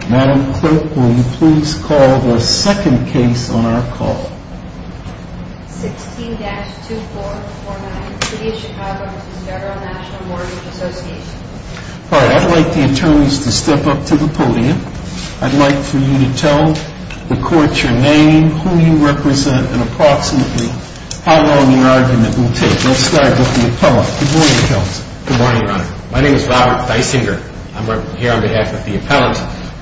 I'd like the attorneys to step up to the podium. I'd like for you to tell the court your name, who you represent, and approximately how long your argument will take. Let's start with the appellant. Good morning, Counsel. Good morning, Your Honor. My name is Robert Deisinger. I'm here on behalf of the Appellant,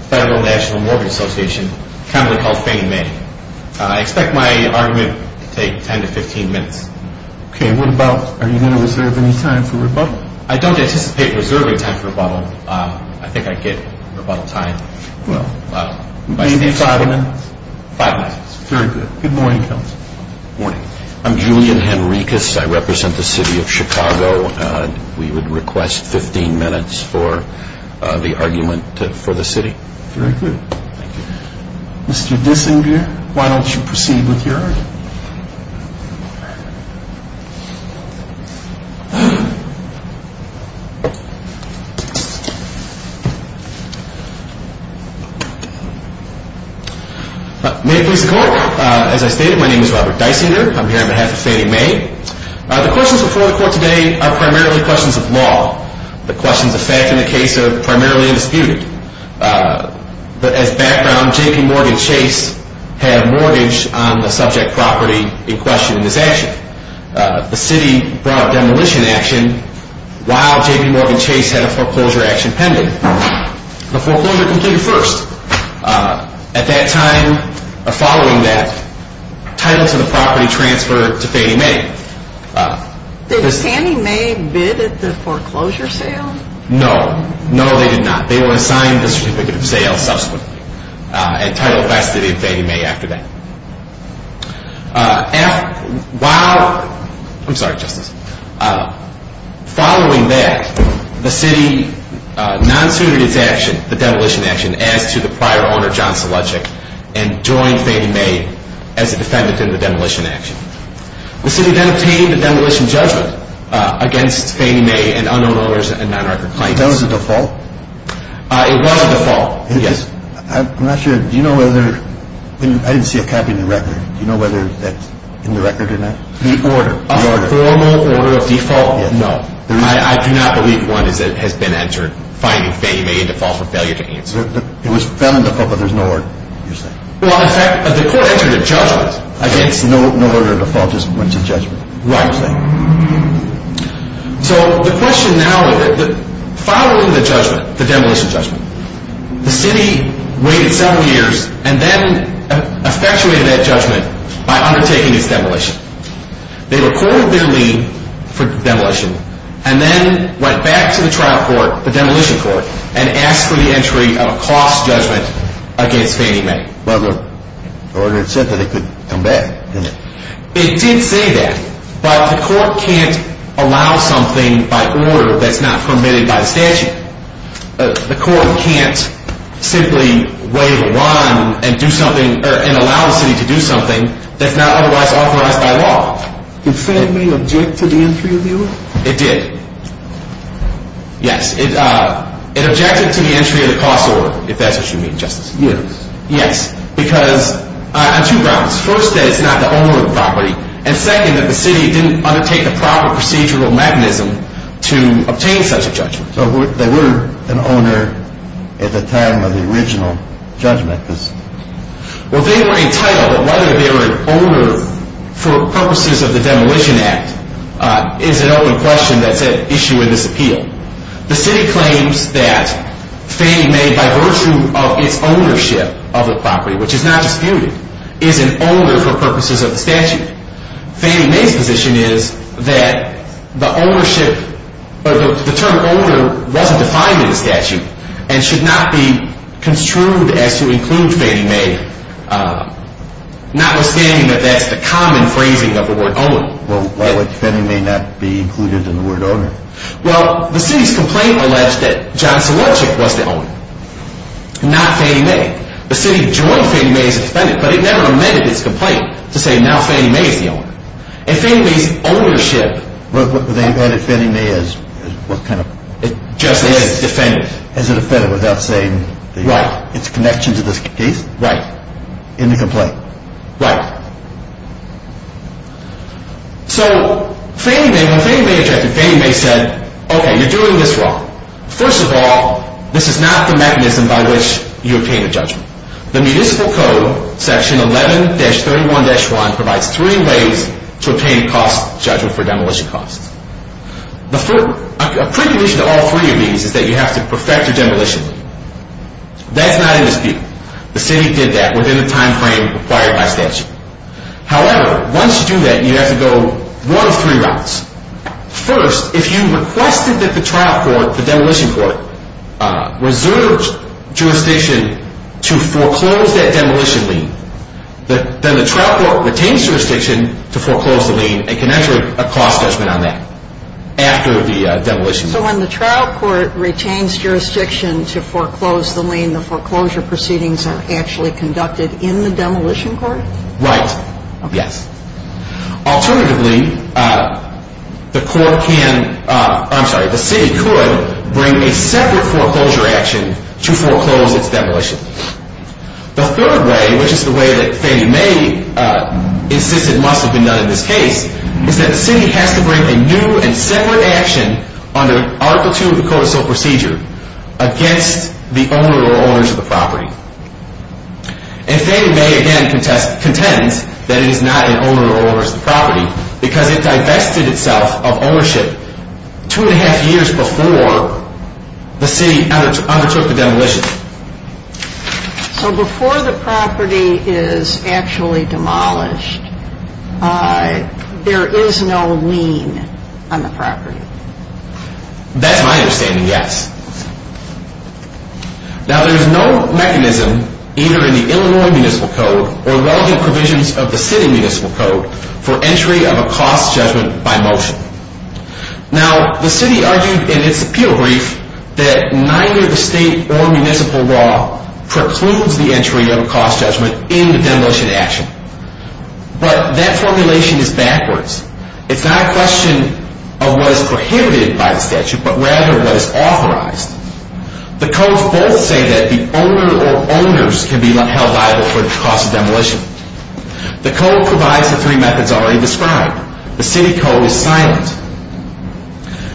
Federal National Mortgage Association. I expect my argument to take 10 to 15 minutes. Are you going to reserve any time for rebuttal? I don't anticipate reserving time for rebuttal. I think I get rebuttal time. Maybe five minutes? Very good. Good morning, Counsel. Good morning. I'm Julian Henricus. I represent the city of Chicago. We would request 15 minutes for the argument for the city. Very good. Mr. Deisinger, why don't you proceed with your argument? May it please the Court. As I stated, my name is Robert Deisinger. I'm here on behalf of Fannie Mae. The questions before the Court today are primarily questions of law. The questions of fact in the case are primarily undisputed. As background, J.P. Morgan Chase had a mortgage on the subject property in question in his action. The city brought a demolition action while J.P. Morgan Chase had a foreclosure action pending. The foreclosure completed first. At that time, following that, title to the property transferred to Fannie Mae. Did Fannie Mae bid at the foreclosure sale? No. No, they did not. They were assigned the certificate of sale subsequently. And title passed to Fannie Mae after that. Following that, the city non-suited its demolition action as to the prior owner, John Selechik, and joined Fannie Mae as a defendant in the demolition action. The city then obtained a demolition judgment against Fannie Mae and unknown owners and non-recorded clients. That was a default? It was a default, yes. I'm not sure. Do you know whether, I didn't see a copy in the record. Do you know whether that's in the record or not? The order. The order. A formal order of default? Yes. No. I do not believe one has been entered, finding Fannie Mae a default for failure to answer. It was found in the court, but there's no order, you're saying? Well, in fact, the court entered a judgment against... No order of default, just went to judgment. Right. So the question now is, following the judgment, the demolition judgment, the city waited seven years and then effectuated that judgment by undertaking its demolition. They recorded their lien for demolition and then went back to the trial court, the demolition court, and asked for the entry of a cost judgment against Fannie Mae. But the order said that it could come back, didn't it? It did say that, but the court can't allow something by order that's not permitted by the statute. The court can't simply waive a line and allow the city to do something that's not otherwise authorized by law. Did Fannie Mae object to the entry of the order? It did. Yes. It objected to the entry of the cost order, if that's what you mean, Justice. Yes. Yes, because on two grounds. First, that it's not the owner of the property, and second, that the city didn't undertake the proper procedural mechanism to obtain such a judgment. So they were an owner at the time of the original judgment? Well, they were entitled, but whether they were an owner for purposes of the Demolition Act is an open question that's at issue in this appeal. The city claims that Fannie Mae, by virtue of its ownership of the property, which is not disputed, is an owner for purposes of the statute. Fannie Mae's position is that the term owner wasn't defined in the statute and should not be construed as to include Fannie Mae, notwithstanding that that's the common phrasing of the word owner. Well, why would Fannie Mae not be included in the word owner? Well, the city's complaint alleged that John Selichik was the owner, not Fannie Mae. The city joined Fannie Mae as a defendant, but it never amended its complaint to say now Fannie Mae is the owner. And Fannie Mae's ownership... What kind of... Just as a defendant. As a defendant without saying its connection to the case? Right. In the complaint? Right. So when Fannie Mae objected, Fannie Mae said, okay, you're doing this wrong. First of all, this is not the mechanism by which you obtain a judgment. The municipal code, section 11-31-1, provides three ways to obtain a cost judgment for demolition costs. A precondition to all three of these is that you have to perfect your demolition. That's not in this appeal. The city did that within the timeframe required by statute. However, once you do that, you have to go one of three routes. First, if you requested that the trial court, the demolition court, reserve jurisdiction to foreclose that demolition lien, then the trial court retains jurisdiction to foreclose the lien and can enter a cost judgment on that after the demolition. So when the trial court retains jurisdiction to foreclose the lien, the foreclosure proceedings are actually conducted in the demolition court? Right. Yes. Alternatively, the court can... I'm sorry, the city could bring a separate foreclosure action to foreclose its demolition. The third way, which is the way that Fannie Mae insisted must have been done in this case, is that the city has to bring a new and separate action under Article II of the Code of Civil Procedure against the owner or owners of the property. And Fannie Mae, again, contends that it is not an owner or owners of the property because it divested itself of ownership two and a half years before the city undertook the demolition. So before the property is actually demolished, there is no lien on the property? That's my understanding, yes. Now, there's no mechanism either in the Illinois Municipal Code or relevant provisions of the city municipal code for entry of a cost judgment by motion. Now, the city argued in its appeal brief that neither the state or municipal law precludes the entry of a cost judgment in the demolition action. But that formulation is backwards. It's not a question of what is prohibited by the statute, but rather what is authorized. The codes both say that the owner or owners can be held liable for the cost of demolition. The code provides the three methods already described. The city code is silent.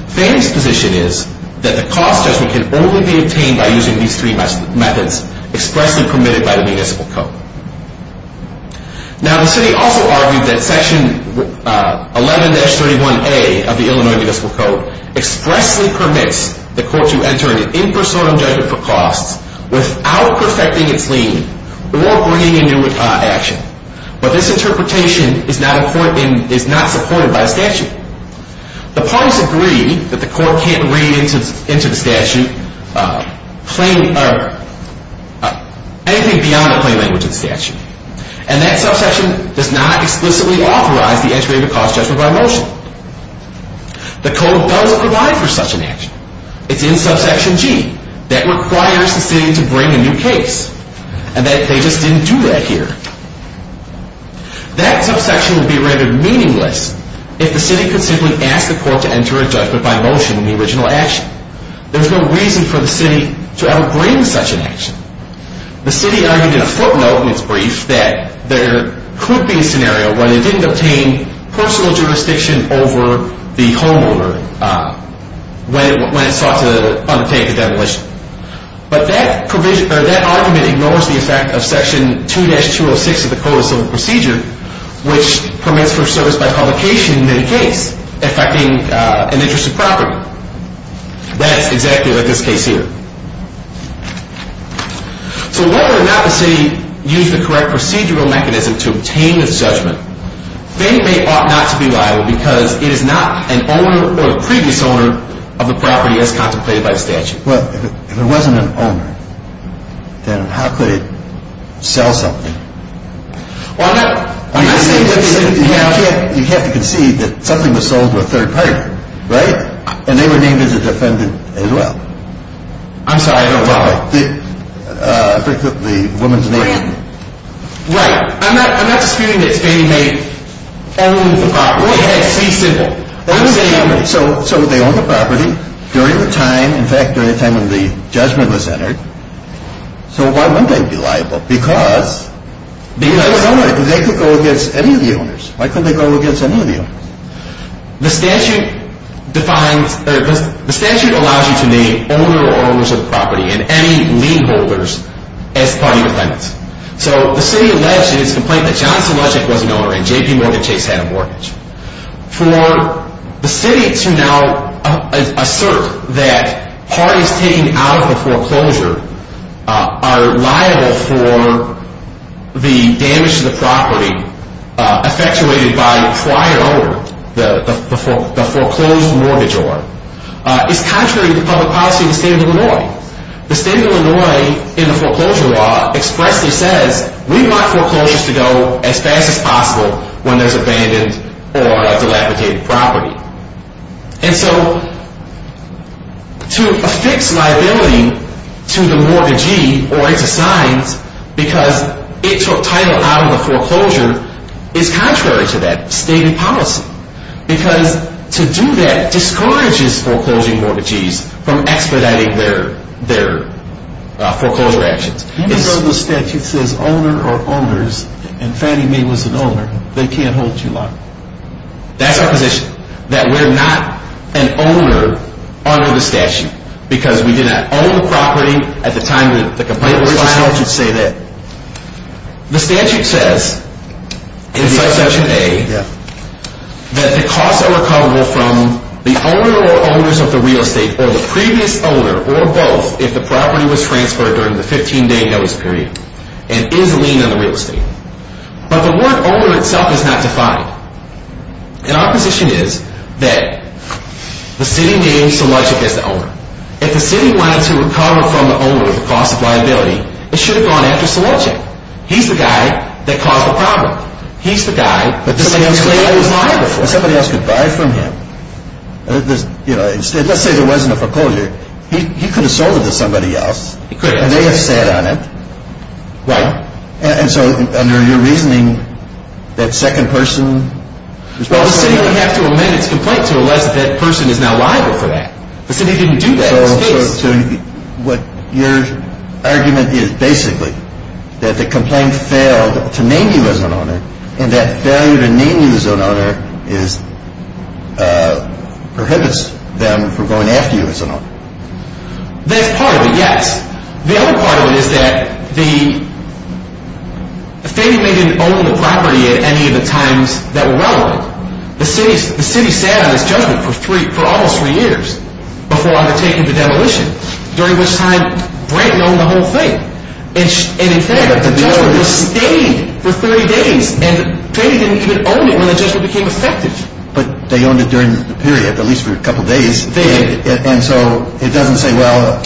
Fannie's position is that the cost judgment can only be obtained by using these three methods expressly permitted by the municipal code. Now, the city also argued that Section 11-31A of the Illinois Municipal Code expressly permits the court to enter an impersonal judgment for costs without perfecting its lien or bringing a new action. But this interpretation is not supported by the statute. The parties agree that the court can't read into the statute anything beyond the plain language of the statute. And that subsection does not explicitly authorize the entry of a cost judgment by motion. The code doesn't provide for such an action. It's in subsection G that requires the city to bring a new case. And they just didn't do that here. That subsection would be rendered meaningless if the city could simply ask the court to enter a judgment by motion in the original action. There's no reason for the city to ever bring such an action. The city argued in a footnote in its brief that there could be a scenario where they didn't obtain personal jurisdiction over the homeowner when it sought to undertake a demolition. But that argument ignores the effect of section 2-206 of the Code of Civil Procedure which permits for service by publication in any case affecting an interest of property. That's exactly like this case here. So whether or not the city used the correct procedural mechanism to obtain a judgment, they may ought not to be liable because it is not an owner or a previous owner of the property as contemplated by statute. Well, if it wasn't an owner, then how could it sell something? Well, I'm not saying that it didn't have... You have to concede that something was sold to a third party, right? And they were named as a defendant as well. I'm sorry, I don't know. The woman's name. Right. I'm not disputing that it's being made only the property. It has to be simple. So they own the property during the time, in fact, during the time when the judgment was entered. So why wouldn't they be liable? Because they could go against any of the owners. Why couldn't they go against any of the owners? The statute defines... The statute allows you to name owner or owners of the property and any lien holders as party defendants. So the city alleged in its complaint that Johnson Ledgwick was an owner and J.P. Morgan Chase had a mortgage. For the city to now assert that parties taking out of the foreclosure are liable for the damage to the property effectuated by the prior owner, the foreclosed mortgage owner, is contrary to public policy in the state of Illinois. The state of Illinois in the foreclosure law expressly says we want foreclosures to go as fast as possible when there's abandoned or dilapidated property. And so to affix liability to the mortgagee or its assigns because it took title out of the foreclosure is contrary to that state of policy because to do that discourages foreclosing mortgagees from expediting their foreclosure actions. Even though the statute says owner or owners and Fannie Mae was an owner, they can't hold you liable. That's our position. That we're not an owner under the statute because we did not own the property at the time the complaint was filed. Wait, let me just let you say that. The statute says in section A that the costs are recoverable from the owner or owners of the real estate or the previous owner or both if the property was transferred during the 15-day notice period and is a lien on the real estate. But the word owner itself is not defined. And our position is that the city named Selichick as the owner. If the city wanted to recover from the owner the cost of liability, it should have gone after Selichick. He's the guy that caused the problem. He's the guy that somebody else could buy from him. Let's say there wasn't a foreclosure. He could have sold it to somebody else. He could have. And they have sat on it. Right. And so under your reasoning, that second person was probably the owner. Well, the city would have to amend its complaint to allow that person is now liable for that. The city didn't do that. So what your argument is basically that the complaint failed to name you as an owner and that failure to name you as an owner prohibits them from going after you as an owner. That's part of it, yes. The other part of it is that the family didn't own the property at any of the times that were relevant. The city sat on its judgment for almost three years before undertaking the demolition, during which time Brent owned the whole thing. And in fact, the judgment stayed for 30 days. And Brady didn't even own it when the judgment became effective. But they owned it during the period, at least for a couple of days. And so it doesn't say, well,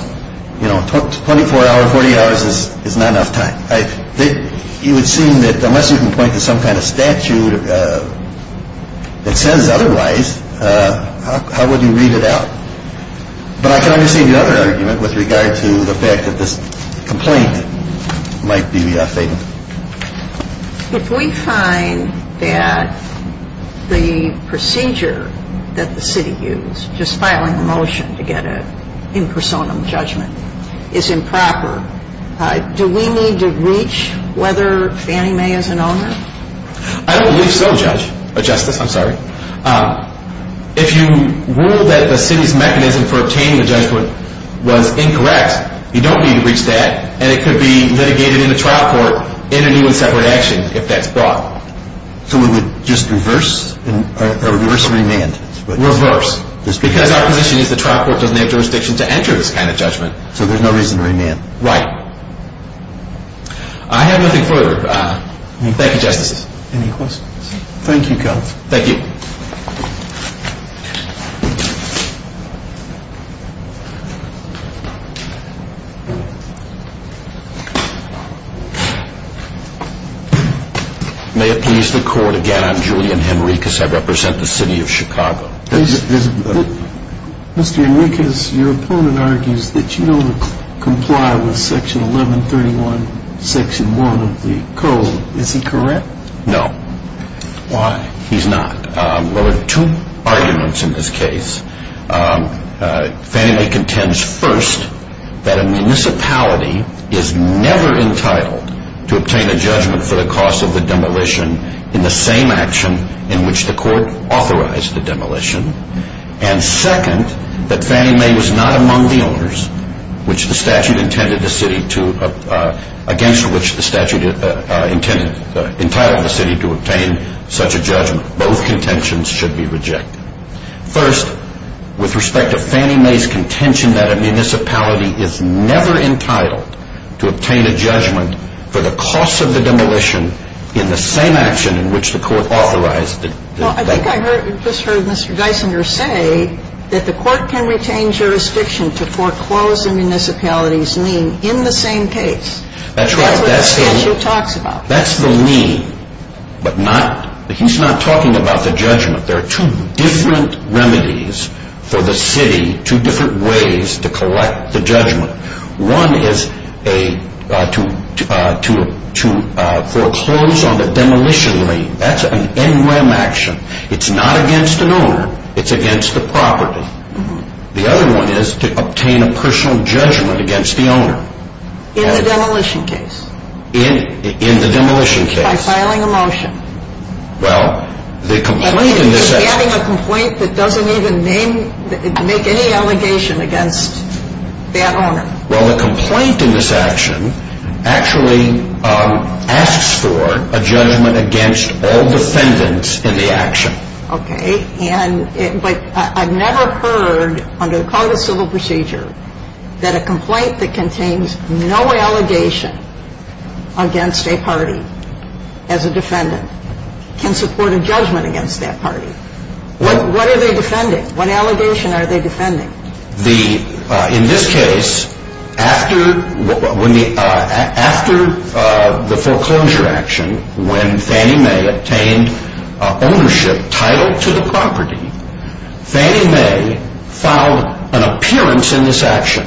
24 hours, 48 hours is not enough time. It would seem that unless you can point to some kind of statute that says otherwise, how would you read it out? But I can understand the other argument with regard to the fact that this complaint might be fatal. If we find that the procedure that the city used, just filing a motion to get an impersonum judgment, is improper, do we need to reach whether Fannie Mae is an owner? I don't believe so, Justice. I'm sorry. If you rule that the city's mechanism for obtaining the judgment was incorrect, you don't need to reach that. And it could be litigated in a trial court in a new and separate action if that's brought. So we would just reverse or reverse remand? Reverse. Because our position is the trial court doesn't have jurisdiction to enter this kind of judgment. So there's no reason to remand. Right. I have nothing further. Thank you, Justices. Any questions? Thank you, Counsel. Thank you. May it please the Court, again, I'm Julian Henricus. I represent the City of Chicago. Mr. Henricus, your opponent argues that you don't comply with Section 1131, Section 1 of the Code. Is he correct? No. Why? He's not. Well, there are two arguments in this case. Fannie Mae contends, first, that a municipality is never entitled to obtain a judgment for the cost of the demolition in the same action in which the Court authorized the demolition, and, second, that Fannie Mae was not among the owners, which the statute intended the city to, against which the statute entitled the city to obtain such a judgment. Both contentions should be rejected. First, with respect to Fannie Mae's contention that a municipality is never entitled to obtain a judgment for the cost of the demolition in the same action in which the Court authorized the demolition. Well, I think I just heard Mr. Geisinger say that the Court can retain jurisdiction to foreclose a municipality's name in the same case. That's right. That's what the statute talks about. That's the lien, but he's not talking about the judgment. There are two different remedies for the city, two different ways to collect the judgment. One is to foreclose on the demolition lien. That's an NREM action. It's not against an owner. It's against the property. The other one is to obtain a personal judgment against the owner. In the demolition case. In the demolition case. By filing a motion. Well, the complaint in this action. Adding a complaint that doesn't even make any allegation against that owner. Well, the complaint in this action actually asks for a judgment against all defendants in the action. Okay. But I've never heard, under the Cognitive Civil Procedure, that a complaint that contains no allegation against a party as a defendant can support a judgment against that party. What are they defending? What allegation are they defending? In this case, after the foreclosure action, when Fannie Mae obtained ownership title to the property, Fannie Mae filed an appearance in this action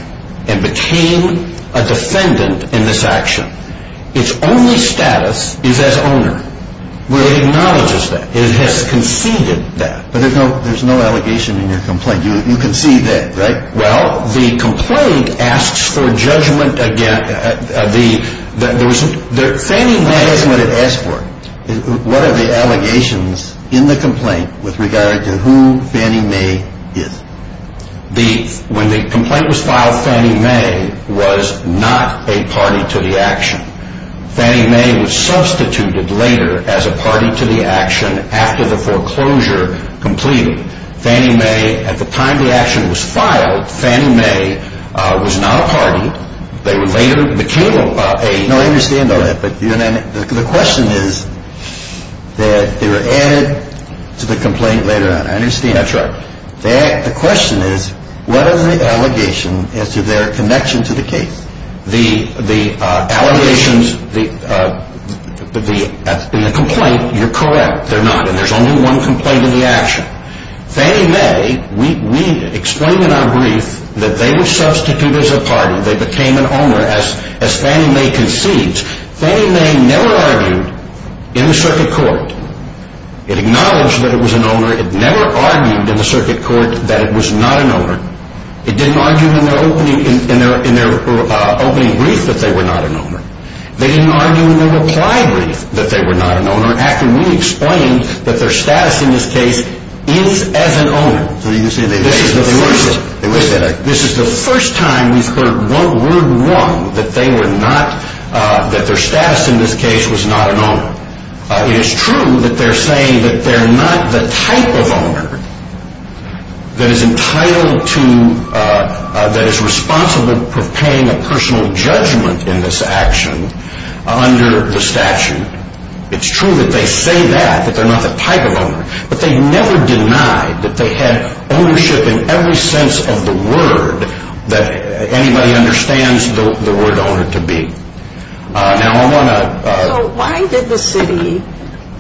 and became a defendant in this action. Its only status is as owner, where it acknowledges that. It has conceded that. But there's no allegation in your complaint. You concede that, right? Well, the complaint asks for judgment against. Fannie Mae is what it asks for. What are the allegations in the complaint with regard to who Fannie Mae is? When the complaint was filed, Fannie Mae was not a party to the action. Fannie Mae was substituted later as a party to the action after the foreclosure completed. Fannie Mae, at the time the action was filed, Fannie Mae was not a party. They were later became a party. No, I understand all that. But the question is that they were added to the complaint later on. I understand. That's right. The question is, what are the allegations as to their connection to the case? The allegations in the complaint, you're correct, they're not. There's only one complaint in the action. Fannie Mae, we explain in our brief that they were substituted as a party. They became an owner as Fannie Mae concedes. Fannie Mae never argued in the circuit court. It acknowledged that it was an owner. It never argued in the circuit court that it was not an owner. It didn't argue in their opening brief that they were not an owner. They didn't argue in their reply brief that they were not an owner. After we explained that their status in this case is as an owner, this is the first time we've heard one word wrong, that their status in this case was not an owner. It is true that they're saying that they're not the type of owner that is entitled to, that is responsible for paying a personal judgment in this action under the statute. It's true that they say that, that they're not the type of owner, but they never denied that they had ownership in every sense of the word that anybody understands the word owner to be. Now, I want to... So why did the city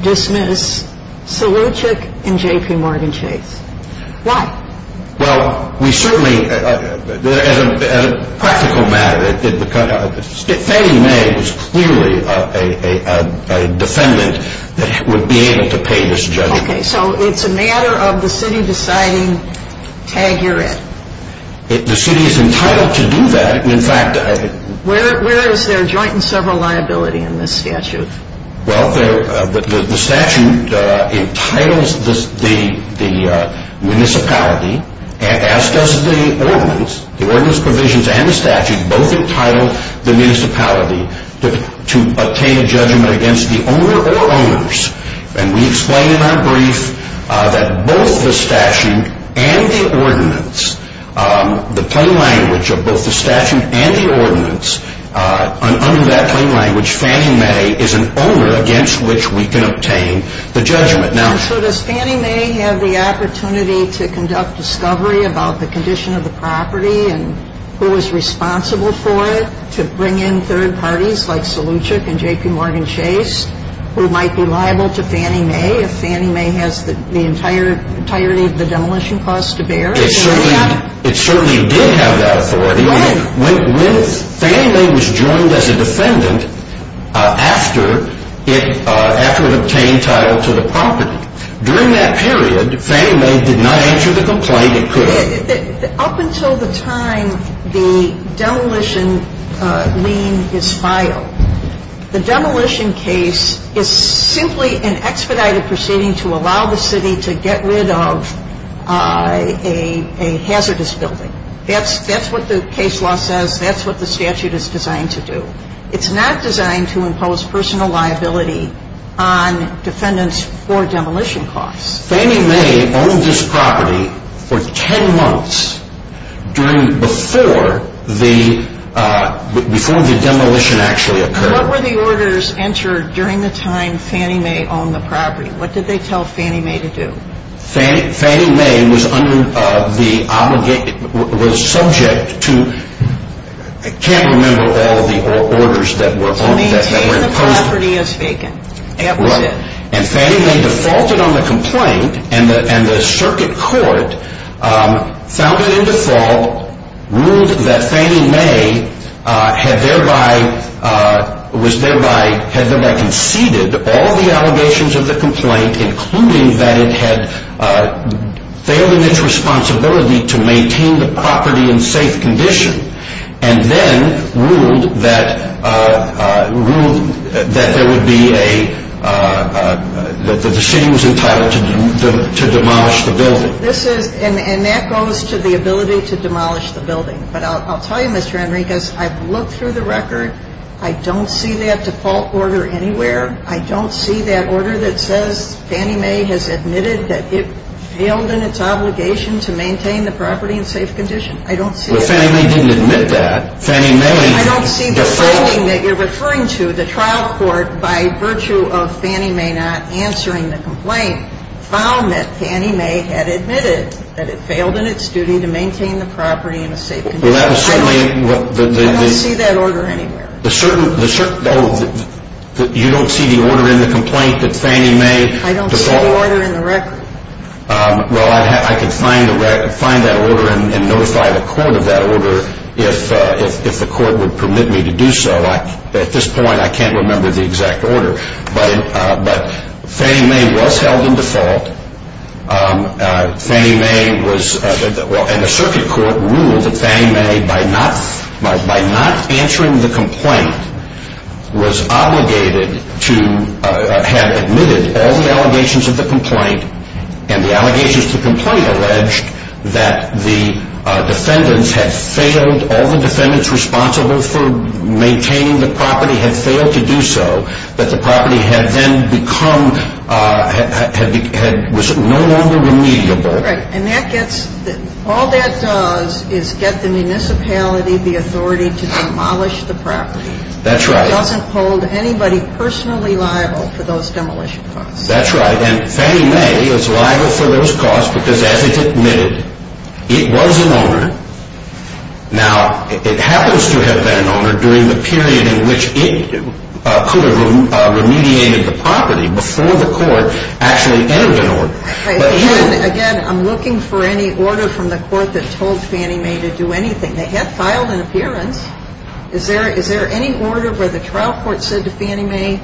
dismiss Selichek and J.P. Morgan Chase? Why? Well, we certainly... As a practical matter, Fannie Mae was clearly a defendant that would be able to pay this judgment. Okay, so it's a matter of the city deciding, tag, you're it. The city is entitled to do that. In fact... Where is their joint and several liability in this statute? Well, the statute entitles the municipality, as does the ordinance. The ordinance provisions and the statute both entitle the municipality to obtain a judgment against the owner or owners. And we explain in our brief that both the statute and the ordinance, the plain language of both the statute and the ordinance, under that plain language, Fannie Mae is an owner against which we can obtain the judgment. So does Fannie Mae have the opportunity to conduct discovery about the condition of the property and who was responsible for it to bring in third parties like Selichek and J.P. Morgan Chase, who might be liable to Fannie Mae if Fannie Mae has the entirety of the demolition costs to bear? It certainly did have that authority. Fannie Mae was joined as a defendant after it obtained title to the property. During that period, Fannie Mae did not answer the complaint. Up until the time the demolition lien is filed, the demolition case is simply an expedited proceeding to allow the city to get rid of a hazardous building. That's what the case law says. That's what the statute is designed to do. It's not designed to impose personal liability on defendants for demolition costs. Fannie Mae owned this property for 10 months before the demolition actually occurred. What were the orders entered during the time Fannie Mae owned the property? What did they tell Fannie Mae to do? Fannie Mae was subject to, I can't remember all the orders that were imposed. To maintain the property as vacant. Fannie Mae defaulted on the complaint and the circuit court found it in default, ruled that Fannie Mae had thereby conceded all the allegations of the complaint, including that it had failed in its responsibility to maintain the property in safe condition, and then ruled that there would be a, that the city was entitled to demolish the building. And that goes to the ability to demolish the building. But I'll tell you, Mr. Enriquez, I've looked through the record. I don't see that default order anywhere. I don't see that order that says Fannie Mae has admitted that it failed in its obligation to maintain the property in safe condition. I don't see that. Well, Fannie Mae didn't admit that. Fannie Mae defaulted. I don't see the finding that you're referring to. The trial court, by virtue of Fannie Mae not answering the complaint, found that Fannie Mae had admitted that it failed in its duty to maintain the property in a safe condition. Well, that was certainly what the... I don't see that order anywhere. Oh, you don't see the order in the complaint that Fannie Mae defaulted? I don't see the order in the record. Well, I could find that order and notify the court of that order if the court would permit me to do so. At this point, I can't remember the exact order. But Fannie Mae was held in default. Fannie Mae was... And the circuit court ruled that Fannie Mae, by not answering the complaint, was obligated to have admitted all the allegations of the complaint. And the allegations of the complaint alleged that the defendants had failed... All the defendants responsible for maintaining the property had failed to do so. That the property had then become... was no longer remediable. Right. And that gets... all that does is get the municipality the authority to demolish the property. That's right. It doesn't hold anybody personally liable for those demolition costs. That's right. And Fannie Mae is liable for those costs because, as it admitted, it was an owner. Now, it happens to have been an owner during the period in which it could have remediated the property before the court actually entered an order. Again, I'm looking for any order from the court that told Fannie Mae to do anything. They have filed an appearance. Is there any order where the trial court said to Fannie Mae,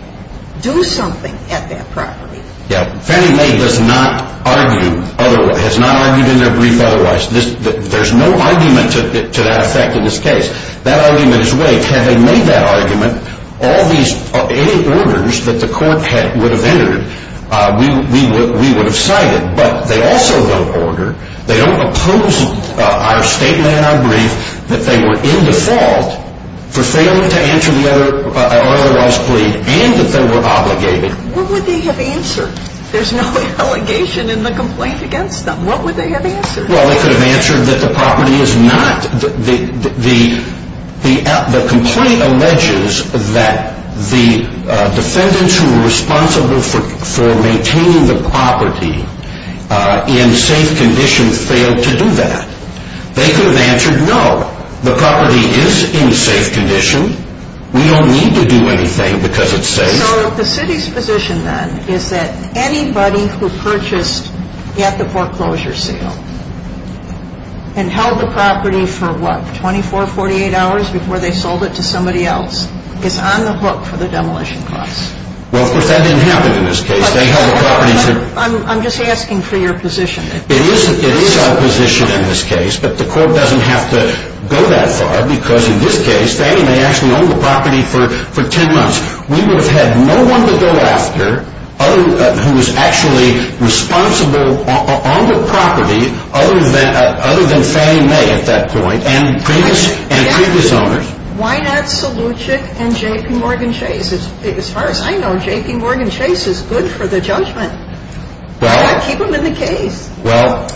do something at that property? Yeah. Fannie Mae does not argue otherwise. Has not argued in her brief otherwise. There's no argument to that effect in this case. That argument is waived. Had they made that argument, all these... any orders that the court would have entered, we would have cited. But they also don't order. They don't oppose our statement in our brief that they were in default for failing to answer the otherwise plead and that they were obligated. What would they have answered? There's no allegation in the complaint against them. What would they have answered? Well, they could have answered that the property is not... The complaint alleges that the defendants who were responsible for maintaining the property in safe condition failed to do that. They could have answered no. The property is in safe condition. We don't need to do anything because it's safe. So the city's position then is that anybody who purchased at the foreclosure sale and held the property for, what, 24, 48 hours before they sold it to somebody else is on the hook for the demolition costs. Well, of course, that didn't happen in this case. They held the property for... I'm just asking for your position. It is our position in this case, but the court doesn't have to go that far because in this case, Fannie Mae actually owned the property for 10 months. We would have had no one to go after who was actually responsible on the property other than Fannie Mae at that point and previous owners. Why not Selucik and J.P. Morgan Chase? As far as I know, J.P. Morgan Chase is good for the judgment. Why not keep them in the case? Well,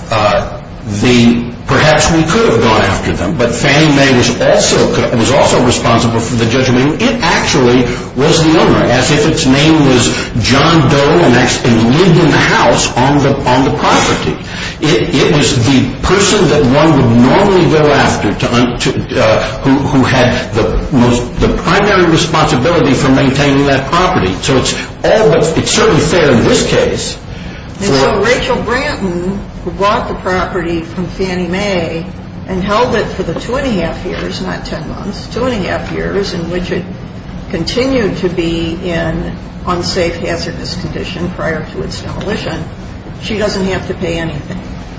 perhaps we could have gone after them, but Fannie Mae was also responsible for the judgment. It actually was the owner, as if its name was John Doe and actually lived in the house on the property. It was the person that one would normally go after who had the primary responsibility for maintaining that property. So it's all but... it's certainly fair in this case for... And so Rachel Branton, who bought the property from Fannie Mae and held it for the 2 1⁄2 years, not 10 months, 2 1⁄2 years in which it continued to be in unsafe hazardous condition prior to its demolition, she doesn't have to pay anything.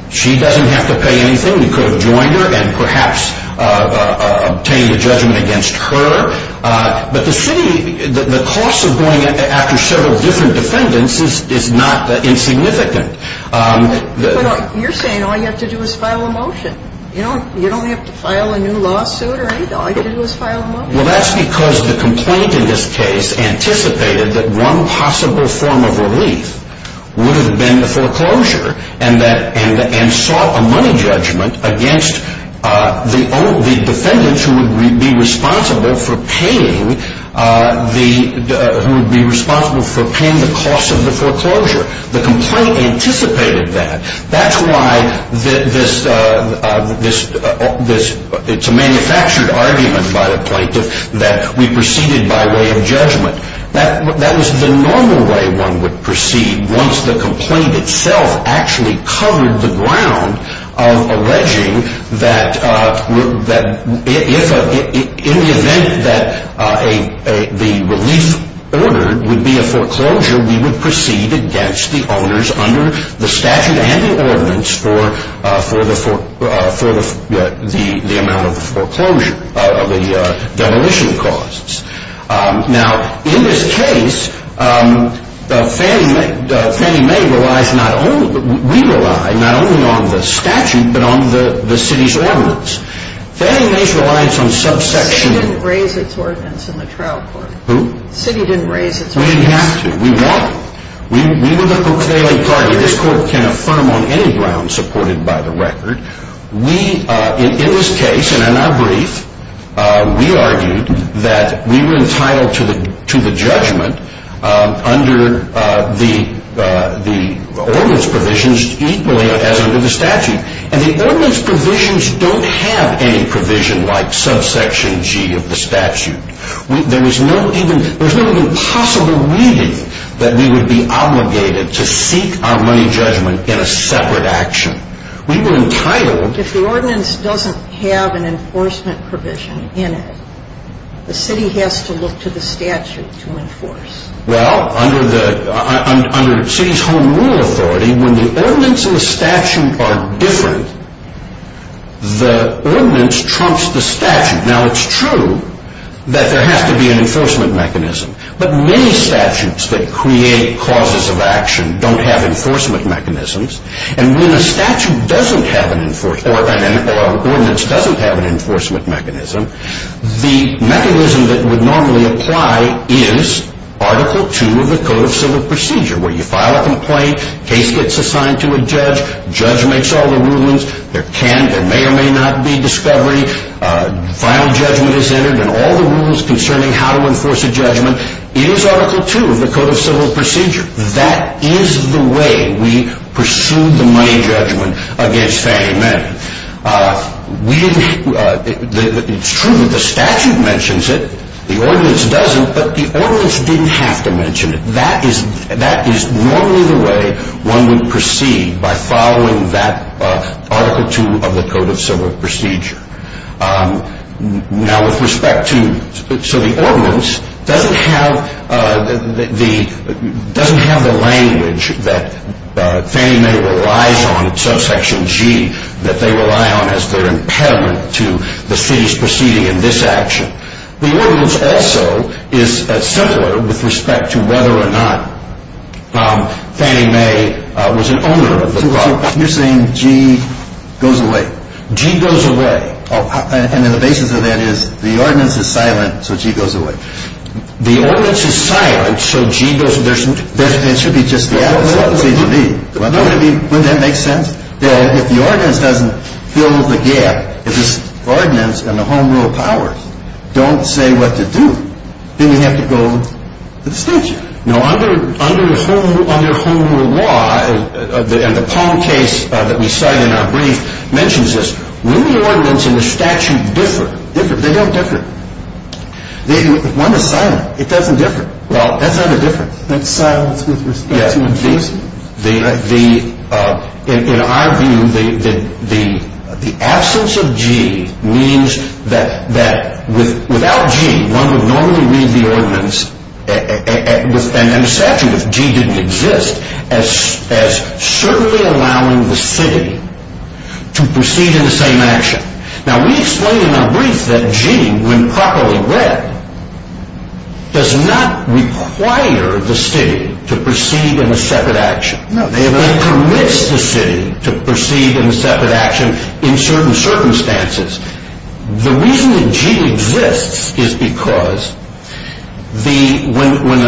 She doesn't have to pay anything. We could have joined her and perhaps obtained a judgment against her. But the city... the cost of going after several different defendants is not insignificant. You're saying all you have to do is file a motion. You don't have to file a new lawsuit or anything. All you have to do is file a motion. Well, that's because the complaint in this case anticipated that one possible form of relief would have been the foreclosure and sought a money judgment against the defendants who would be responsible for paying the cost of the foreclosure. The complaint anticipated that. That's why this... it's a manufactured argument by the plaintiff that we proceeded by way of judgment. That was the normal way one would proceed once the complaint itself actually covered the ground of alleging that if... The city didn't raise its ordinance in the trial court. Who? The city didn't raise its ordinance. We didn't have to. We want... we were the proclaiming party. This court can affirm on any ground supported by the record. We, in this case and in our brief, we argued that we were entitled to the judgment under the ordinance provisions equally as under the statute. And the ordinance provisions don't have any provision like subsection G of the statute. There was no even... there was no even possible reading that we would be obligated to seek our money judgment in a separate action. We were entitled... If the ordinance doesn't have an enforcement provision in it, the city has to look to the statute to enforce. Well, under the... under city's home rule authority, when the ordinance and the statute are different, the ordinance trumps the statute. Now, it's true that there has to be an enforcement mechanism. But many statutes that create causes of action don't have enforcement mechanisms. And when a statute doesn't have an... or an ordinance doesn't have an enforcement mechanism, the mechanism that would normally apply is Article II of the Code of Civil Procedure, where you file a complaint, case gets assigned to a judge, judge makes all the rulings, there can... there may or may not be discovery, final judgment is entered, and all the rules concerning how to enforce a judgment is Article II of the Code of Civil Procedure. That is the way we pursued the money judgment against Fannie Mae. We didn't... it's true that the statute mentions it, the ordinance doesn't, but the ordinance didn't have to mention it. That is normally the way one would proceed by following that Article II of the Code of Civil Procedure. Now, with respect to... so the ordinance doesn't have the... doesn't have the language that Fannie Mae relies on, subsection G, that they rely on as their impediment to the city's proceeding in this action. The ordinance also is simpler with respect to whether or not Fannie Mae was an owner of the property. So you're saying G goes away. G goes away. And then the basis of that is the ordinance is silent, so G goes away. The ordinance is silent, so G goes... It should be just the absence of C.G.B. Wouldn't that make sense? If the ordinance doesn't fill the gap, if the ordinance and the Home Rule powers don't say what to do, then we have to go to the statute. No, under Home Rule law, and the Palm case that we cite in our brief mentions this, when the ordinance and the statute differ... They don't differ. One is silent. It doesn't differ. Well, that's not a difference. That's silence with respect to enforcement. In our view, the absence of G means that without G, one would normally read the ordinance and the statute, if G didn't exist, as certainly allowing the city to proceed in the same action. Now, we explain in our brief that G, when properly read, does not require the city to proceed in a separate action. It permits the city to proceed in a separate action in certain circumstances. The reason that G exists is because when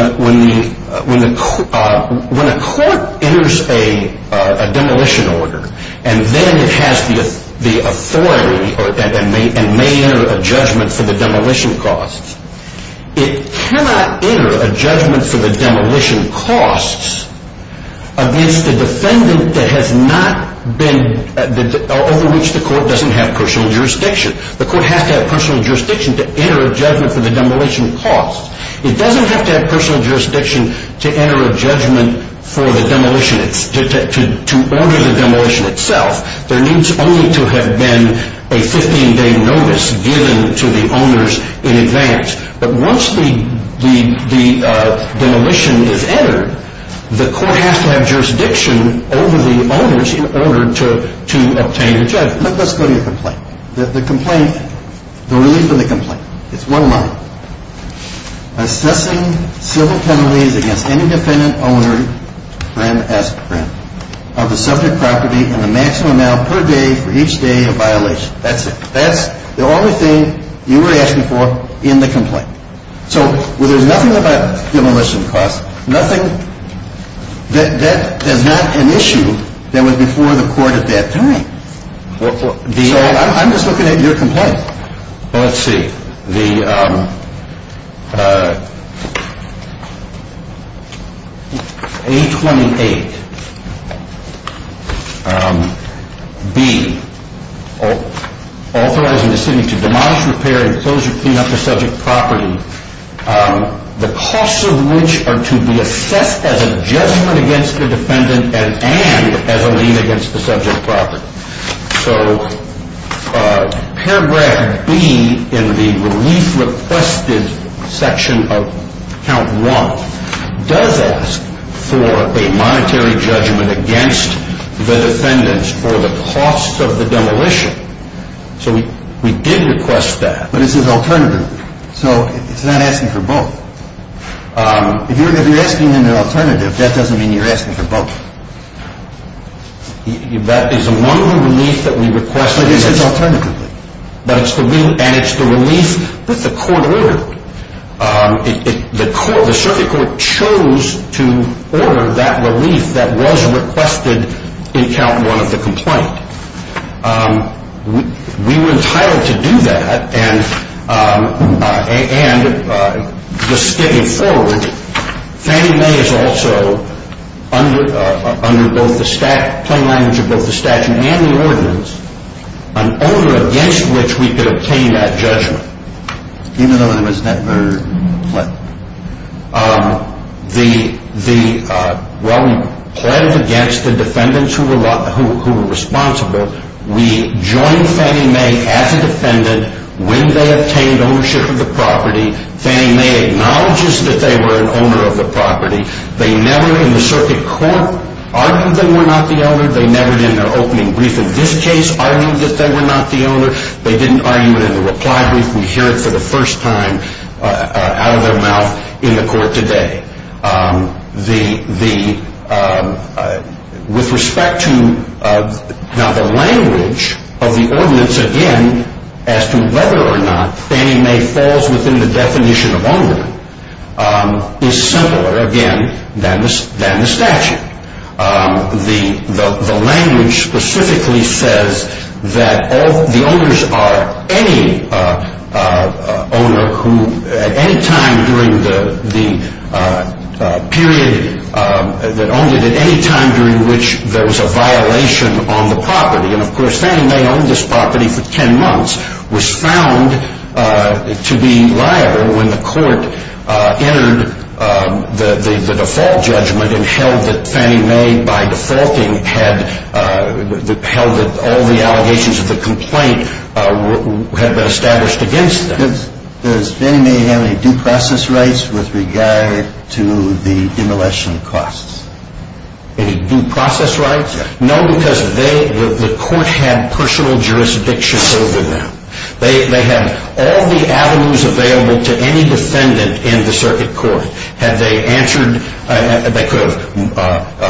a court enters a demolition order, and then it has the authority and may enter a judgment for the demolition costs... The court has to have personal jurisdiction to enter a judgment for the demolition costs. It doesn't have to have personal jurisdiction to enter a judgment for the demolition... to order the demolition itself. There needs only to have been a 15-day notice given to the owners in advance. But once the demolition is entered, the court has to have jurisdiction over the owners in order to obtain the judgment. Let's go to your complaint. The complaint... the relief in the complaint. It's one line. Assessing civil penalties against any dependent owner of the subject property in the maximum amount per day for each day of violation. That's it. That's the only thing you were asking for in the complaint. So, there's nothing about demolition costs. Nothing... that is not an issue that was before the court at that time. So, I'm just looking at your complaint. Let's see. The... A-28-B. Authorizing the city to demolish, repair, and clean up the subject property. The costs of which are to be assessed as a judgment against the defendant and as a lien against the subject property. So, paragraph B in the relief requested section of count one does ask for a monetary judgment against the defendants for the cost of the demolition. So, we did request that. But it's an alternative. So, it's not asking for both. If you're asking an alternative, that doesn't mean you're asking for both. That is among the relief that we requested. But it's an alternative. But it's the relief... and it's the relief that the court ordered. The court... the circuit court chose to order that relief that was requested in count one of the complaint. We were entitled to do that. And, just skipping forward, Fannie Mae is also under both the statute... plain language of both the statute and the ordinance. An order against which we could obtain that judgment. Even though it was never pledged? The... well, pledged against the defendants who were responsible. We joined Fannie Mae as a defendant when they obtained ownership of the property. Fannie Mae acknowledges that they were an owner of the property. They never, in the circuit court, argued they were not the owner. They never, in their opening brief in this case, argued that they were not the owner. They didn't argue it in the reply brief. We hear it for the first time, out of their mouth, in the court today. The... with respect to... now, the language of the ordinance, again, as to whether or not Fannie Mae falls within the definition of owner, is similar, again, than the statute. The language specifically says that the owners are any owner who, at any time during the period that owned it... at any time during which there was a violation on the property... and, of course, Fannie Mae owned this property for ten months... was found to be liable when the court entered the default judgment and held that Fannie Mae, by defaulting, had... held that all the allegations of the complaint had been established against them. Does Fannie Mae have any due process rights with regard to the demolition costs? Any due process rights? No, because they... the court had personal jurisdiction over them. They had all the avenues available to any defendant in the circuit court. Had they answered... they could have...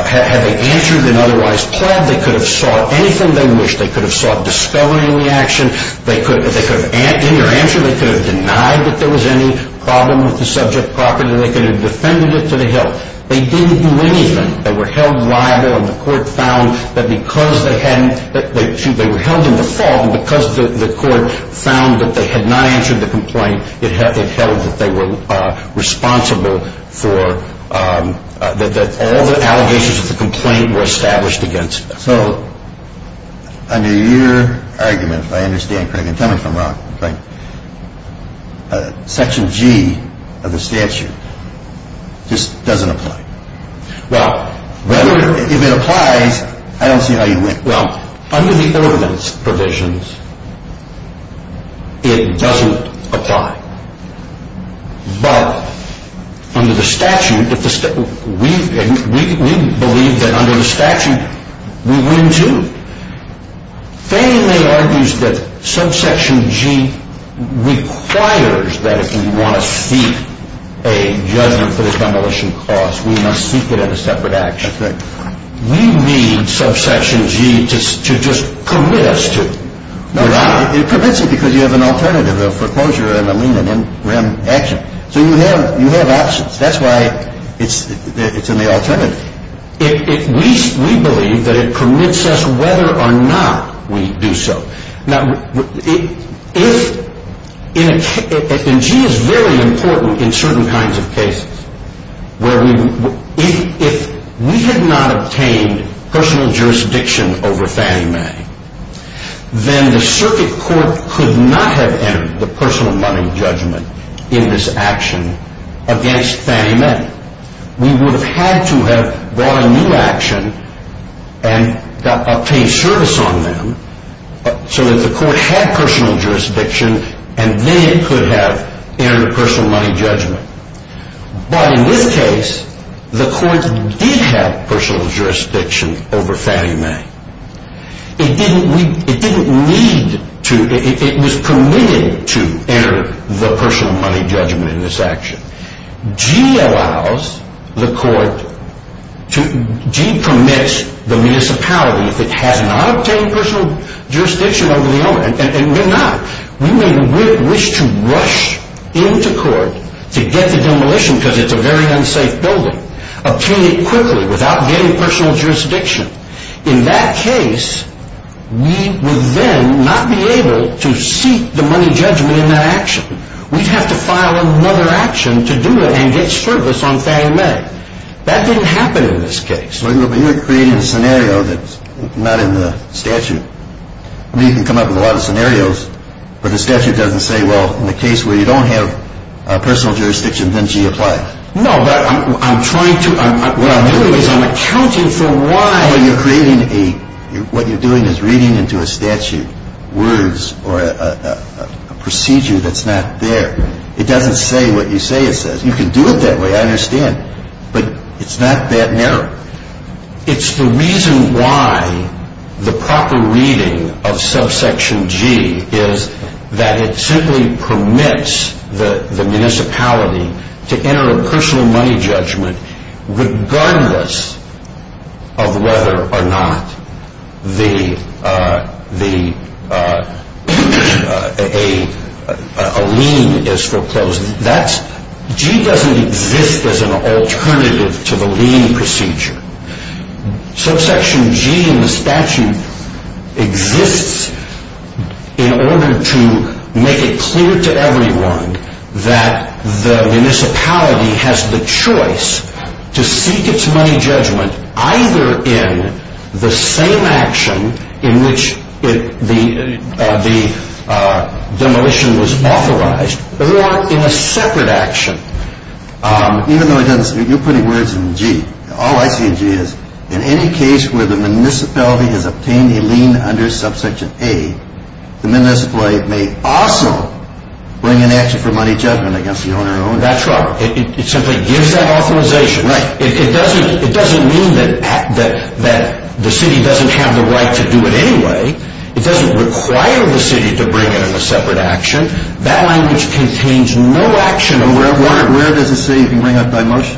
had they answered an otherwise plead, they could have sought anything they wished. They could have sought discovering the action. They could have... in their answer, they could have denied that there was any problem with the subject property. They could have defended it to the hill. They didn't do anything. They were held liable and the court found that because they hadn't... they were held in default and because the court found that they had not answered the complaint, it held that they were responsible for... that all the allegations of the complaint were established against them. So, under your argument, if I understand correctly, and tell me if I'm wrong, Craig, Section G of the statute just doesn't apply. Well... If it applies, I don't see how you... Well, under the ordinance provisions, it doesn't apply. But, under the statute, if the... we believe that under the statute, we would, too. Feynman argues that subsection G requires that if we want to seek a judgment for a demolition cause, we must seek it in a separate action. That's right. We need subsection G to just permit us to... No, it permits it because you have an alternative, a foreclosure and a lien and then we have action. So, you have options. That's why it's in the alternative. We believe that it permits us whether or not we do so. Now, if... and G is very important in certain kinds of cases where we... If we had not obtained personal jurisdiction over Fannie Mae, then the circuit court could not have entered the personal money judgment in this action against Fannie Mae. We would have had to have brought a new action and obtained service on them so that the court had personal jurisdiction and then it could have entered a personal money judgment. But in this case, the court did have personal jurisdiction over Fannie Mae. It didn't need to... it was permitted to enter the personal money judgment in this action. G allows the court to... G permits the municipality if it has not obtained personal jurisdiction over the owner. And we're not. We may wish to rush into court to get the demolition because it's a very unsafe building, obtain it quickly without getting personal jurisdiction. In that case, we would then not be able to seek the money judgment in that action. We'd have to file another action to do it and get service on Fannie Mae. That didn't happen in this case. But you're creating a scenario that's not in the statute. I mean, you can come up with a lot of scenarios, but the statute doesn't say, well, in the case where you don't have personal jurisdiction, then G applies. No, but I'm trying to... what I'm doing is I'm accounting for why... Well, you're creating a... what you're doing is reading into a statute words or a procedure that's not there. It doesn't say what you say it says. You can do it that way, I understand, but it's not that narrow. It's the reason why the proper reading of subsection G is that it simply permits the municipality to enter a personal money judgment regardless of whether or not the... a lien is foreclosed. That's... G doesn't exist as an alternative to the lien procedure. Subsection G in the statute exists in order to make it clear to everyone that the municipality has the choice to seek its money judgment either in the same action in which the demolition was authorized or in a separate action. Even though it doesn't... you're putting words in G. All I see in G is in any case where the municipality has obtained a lien under subsection A, the municipality may also bring an action for money judgment against the owner and owner. That's right. It simply gives that authorization. Right. It doesn't mean that the city doesn't have the right to do it anyway. It doesn't require the city to bring it in a separate action. That language contains no action... Well, where does it say you can bring up by motion?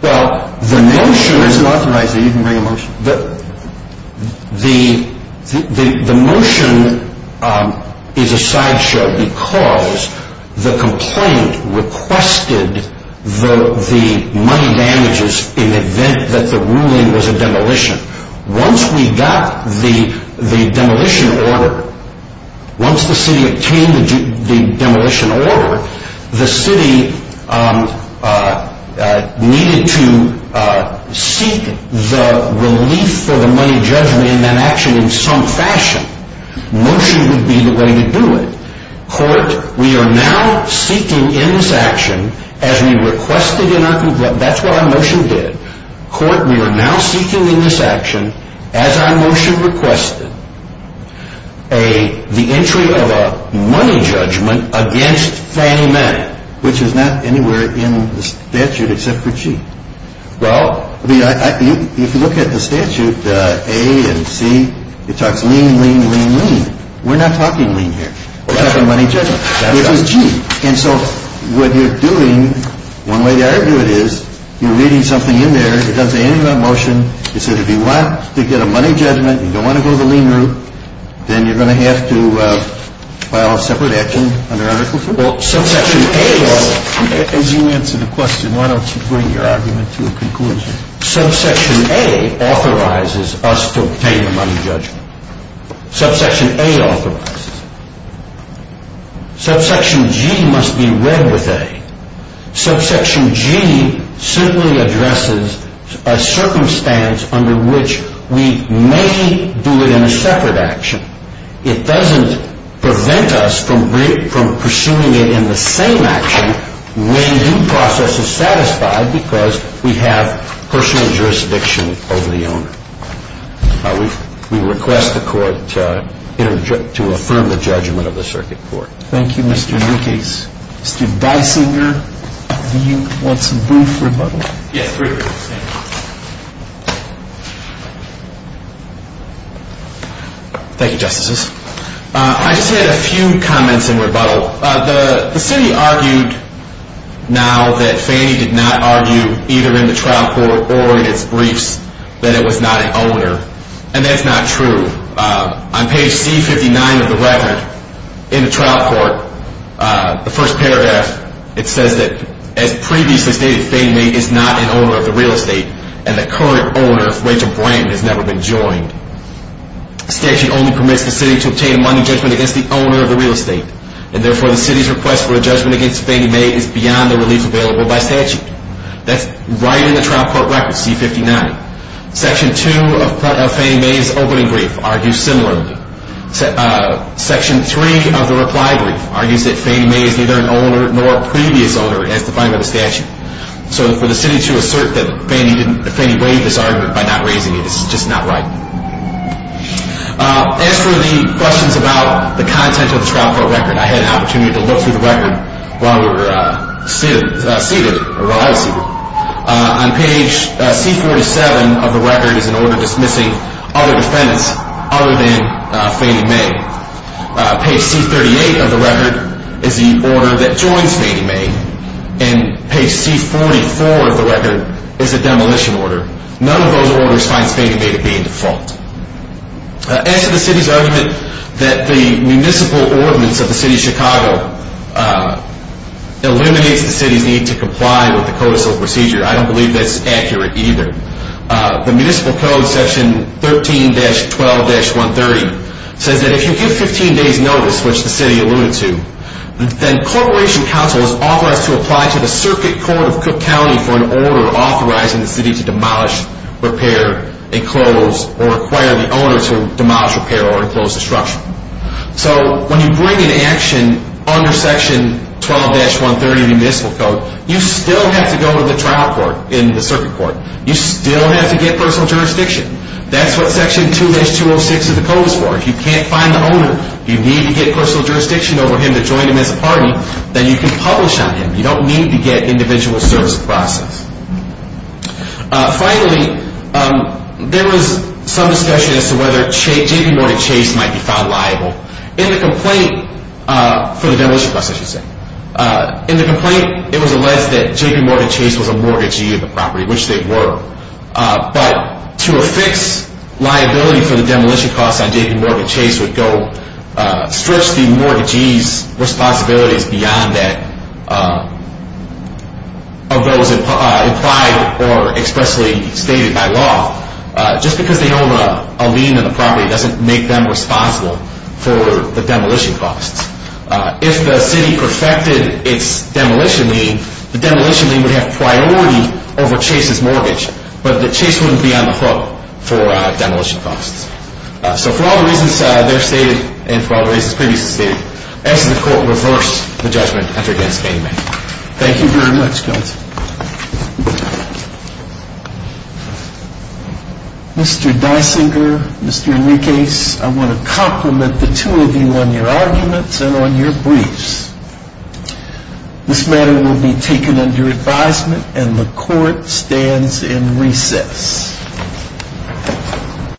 Well, the motion... It's authorized that you can bring a motion. The motion is a sideshow because the complaint requested the money damages in the event that the ruling was a demolition. Once we got the demolition order, once the city obtained the demolition order, the city needed to seek the relief for the money judgment in that action in some fashion. Motion would be the way to do it. Court, we are now seeking in this action as we requested in our complaint... That's what our motion did. Court, we are now seeking in this action as our motion requested the entry of a money judgment against Fannie Mae. Which is not anywhere in the statute except for G. Well... If you look at the statute, A and C, it talks lean, lean, lean, lean. We're not talking lean here. We're talking money judgment. That's right. And so what you're doing, one way to argue it is you're reading something in there. It doesn't say anything about motion. It said if you want to get a money judgment, you don't want to go the lean route, then you're going to have to file a separate action under Article 3. Well, Subsection A... As you answer the question, why don't you bring your argument to a conclusion? Subsection A authorizes us to obtain a money judgment. Subsection A authorizes. Subsection G must be read with A. Subsection G simply addresses a circumstance under which we may do it in a separate action. It doesn't prevent us from pursuing it in the same action when the process is satisfied because we have personal jurisdiction over the owner. We request the court to affirm the judgment of the circuit court. Thank you, Mr. Lucas. Mr. Dysinger, do you want some brief rebuttal? Yes, please. Thank you, Justices. I just had a few comments in rebuttal. The city argued now that Fannie did not argue either in the trial court or in its briefs that it was not an owner, and that's not true. On page C-59 of the record in the trial court, the first paragraph, it says that as previously stated, Fannie Mae is not an owner of the real estate, and the current owner, Rachel Branton, has never been joined. Statute only permits the city to obtain a money judgment against the owner of the real estate, and therefore the city's request for a judgment against Fannie Mae is beyond the relief available by statute. That's right in the trial court record, C-59. Section 2 of Fannie Mae's opening brief argues similarly. Section 3 of the reply brief argues that Fannie Mae is neither an owner nor a previous owner as defined by the statute. So for the city to assert that Fannie waived this argument by not raising it is just not right. As for the questions about the content of the trial court record, I had an opportunity to look through the record while we were seated, or while I was seated. On page C-47 of the record is an order dismissing other defendants other than Fannie Mae. Page C-38 of the record is the order that joins Fannie Mae, and page C-44 of the record is a demolition order. None of those orders finds Fannie Mae to be in default. As to the city's argument that the municipal ordinance of the city of Chicago eliminates the city's need to comply with the Code of Civil Procedure, I don't believe that's accurate either. The municipal code, section 13-12-130, says that if you give 15 days notice, which the city alluded to, then corporation counsel is authorized to apply to the circuit court of Cook County for an order authorizing the city to demolish, repair, enclose, or require the owner to demolish, repair, or enclose the structure. So when you bring into action under section 12-130 of the municipal code, you still have to go to the trial court in the circuit court. You still have to get personal jurisdiction. That's what section 2-206 of the code is for. If you can't find the owner, you need to get personal jurisdiction over him to join him as a party, then you can publish on him. You don't need to get individual service process. Finally, there was some discussion as to whether J.P. Morgan Chase might be found liable. In the complaint for the demolition costs, I should say, in the complaint it was alleged that J.P. Morgan Chase was a mortgagee of the property, which they were. But to affix liability for the demolition costs on J.P. Morgan Chase would stretch the mortgagee's responsibilities beyond that of those implied or expressly stated by law. Just because they own a lien in the property doesn't make them responsible for the demolition costs. If the city perfected its demolition lien, the demolition lien would have priority over Chase's mortgage, but Chase wouldn't be on the hook for demolition costs. So for all the reasons there stated and for all the reasons previously stated, I ask that the court reverse the judgment after against me. Thank you very much, counsel. Mr. Dysinger, Mr. Leakes, I want to compliment the two of you on your arguments and on your briefs. This matter will be taken under advisement and the court stands in recess.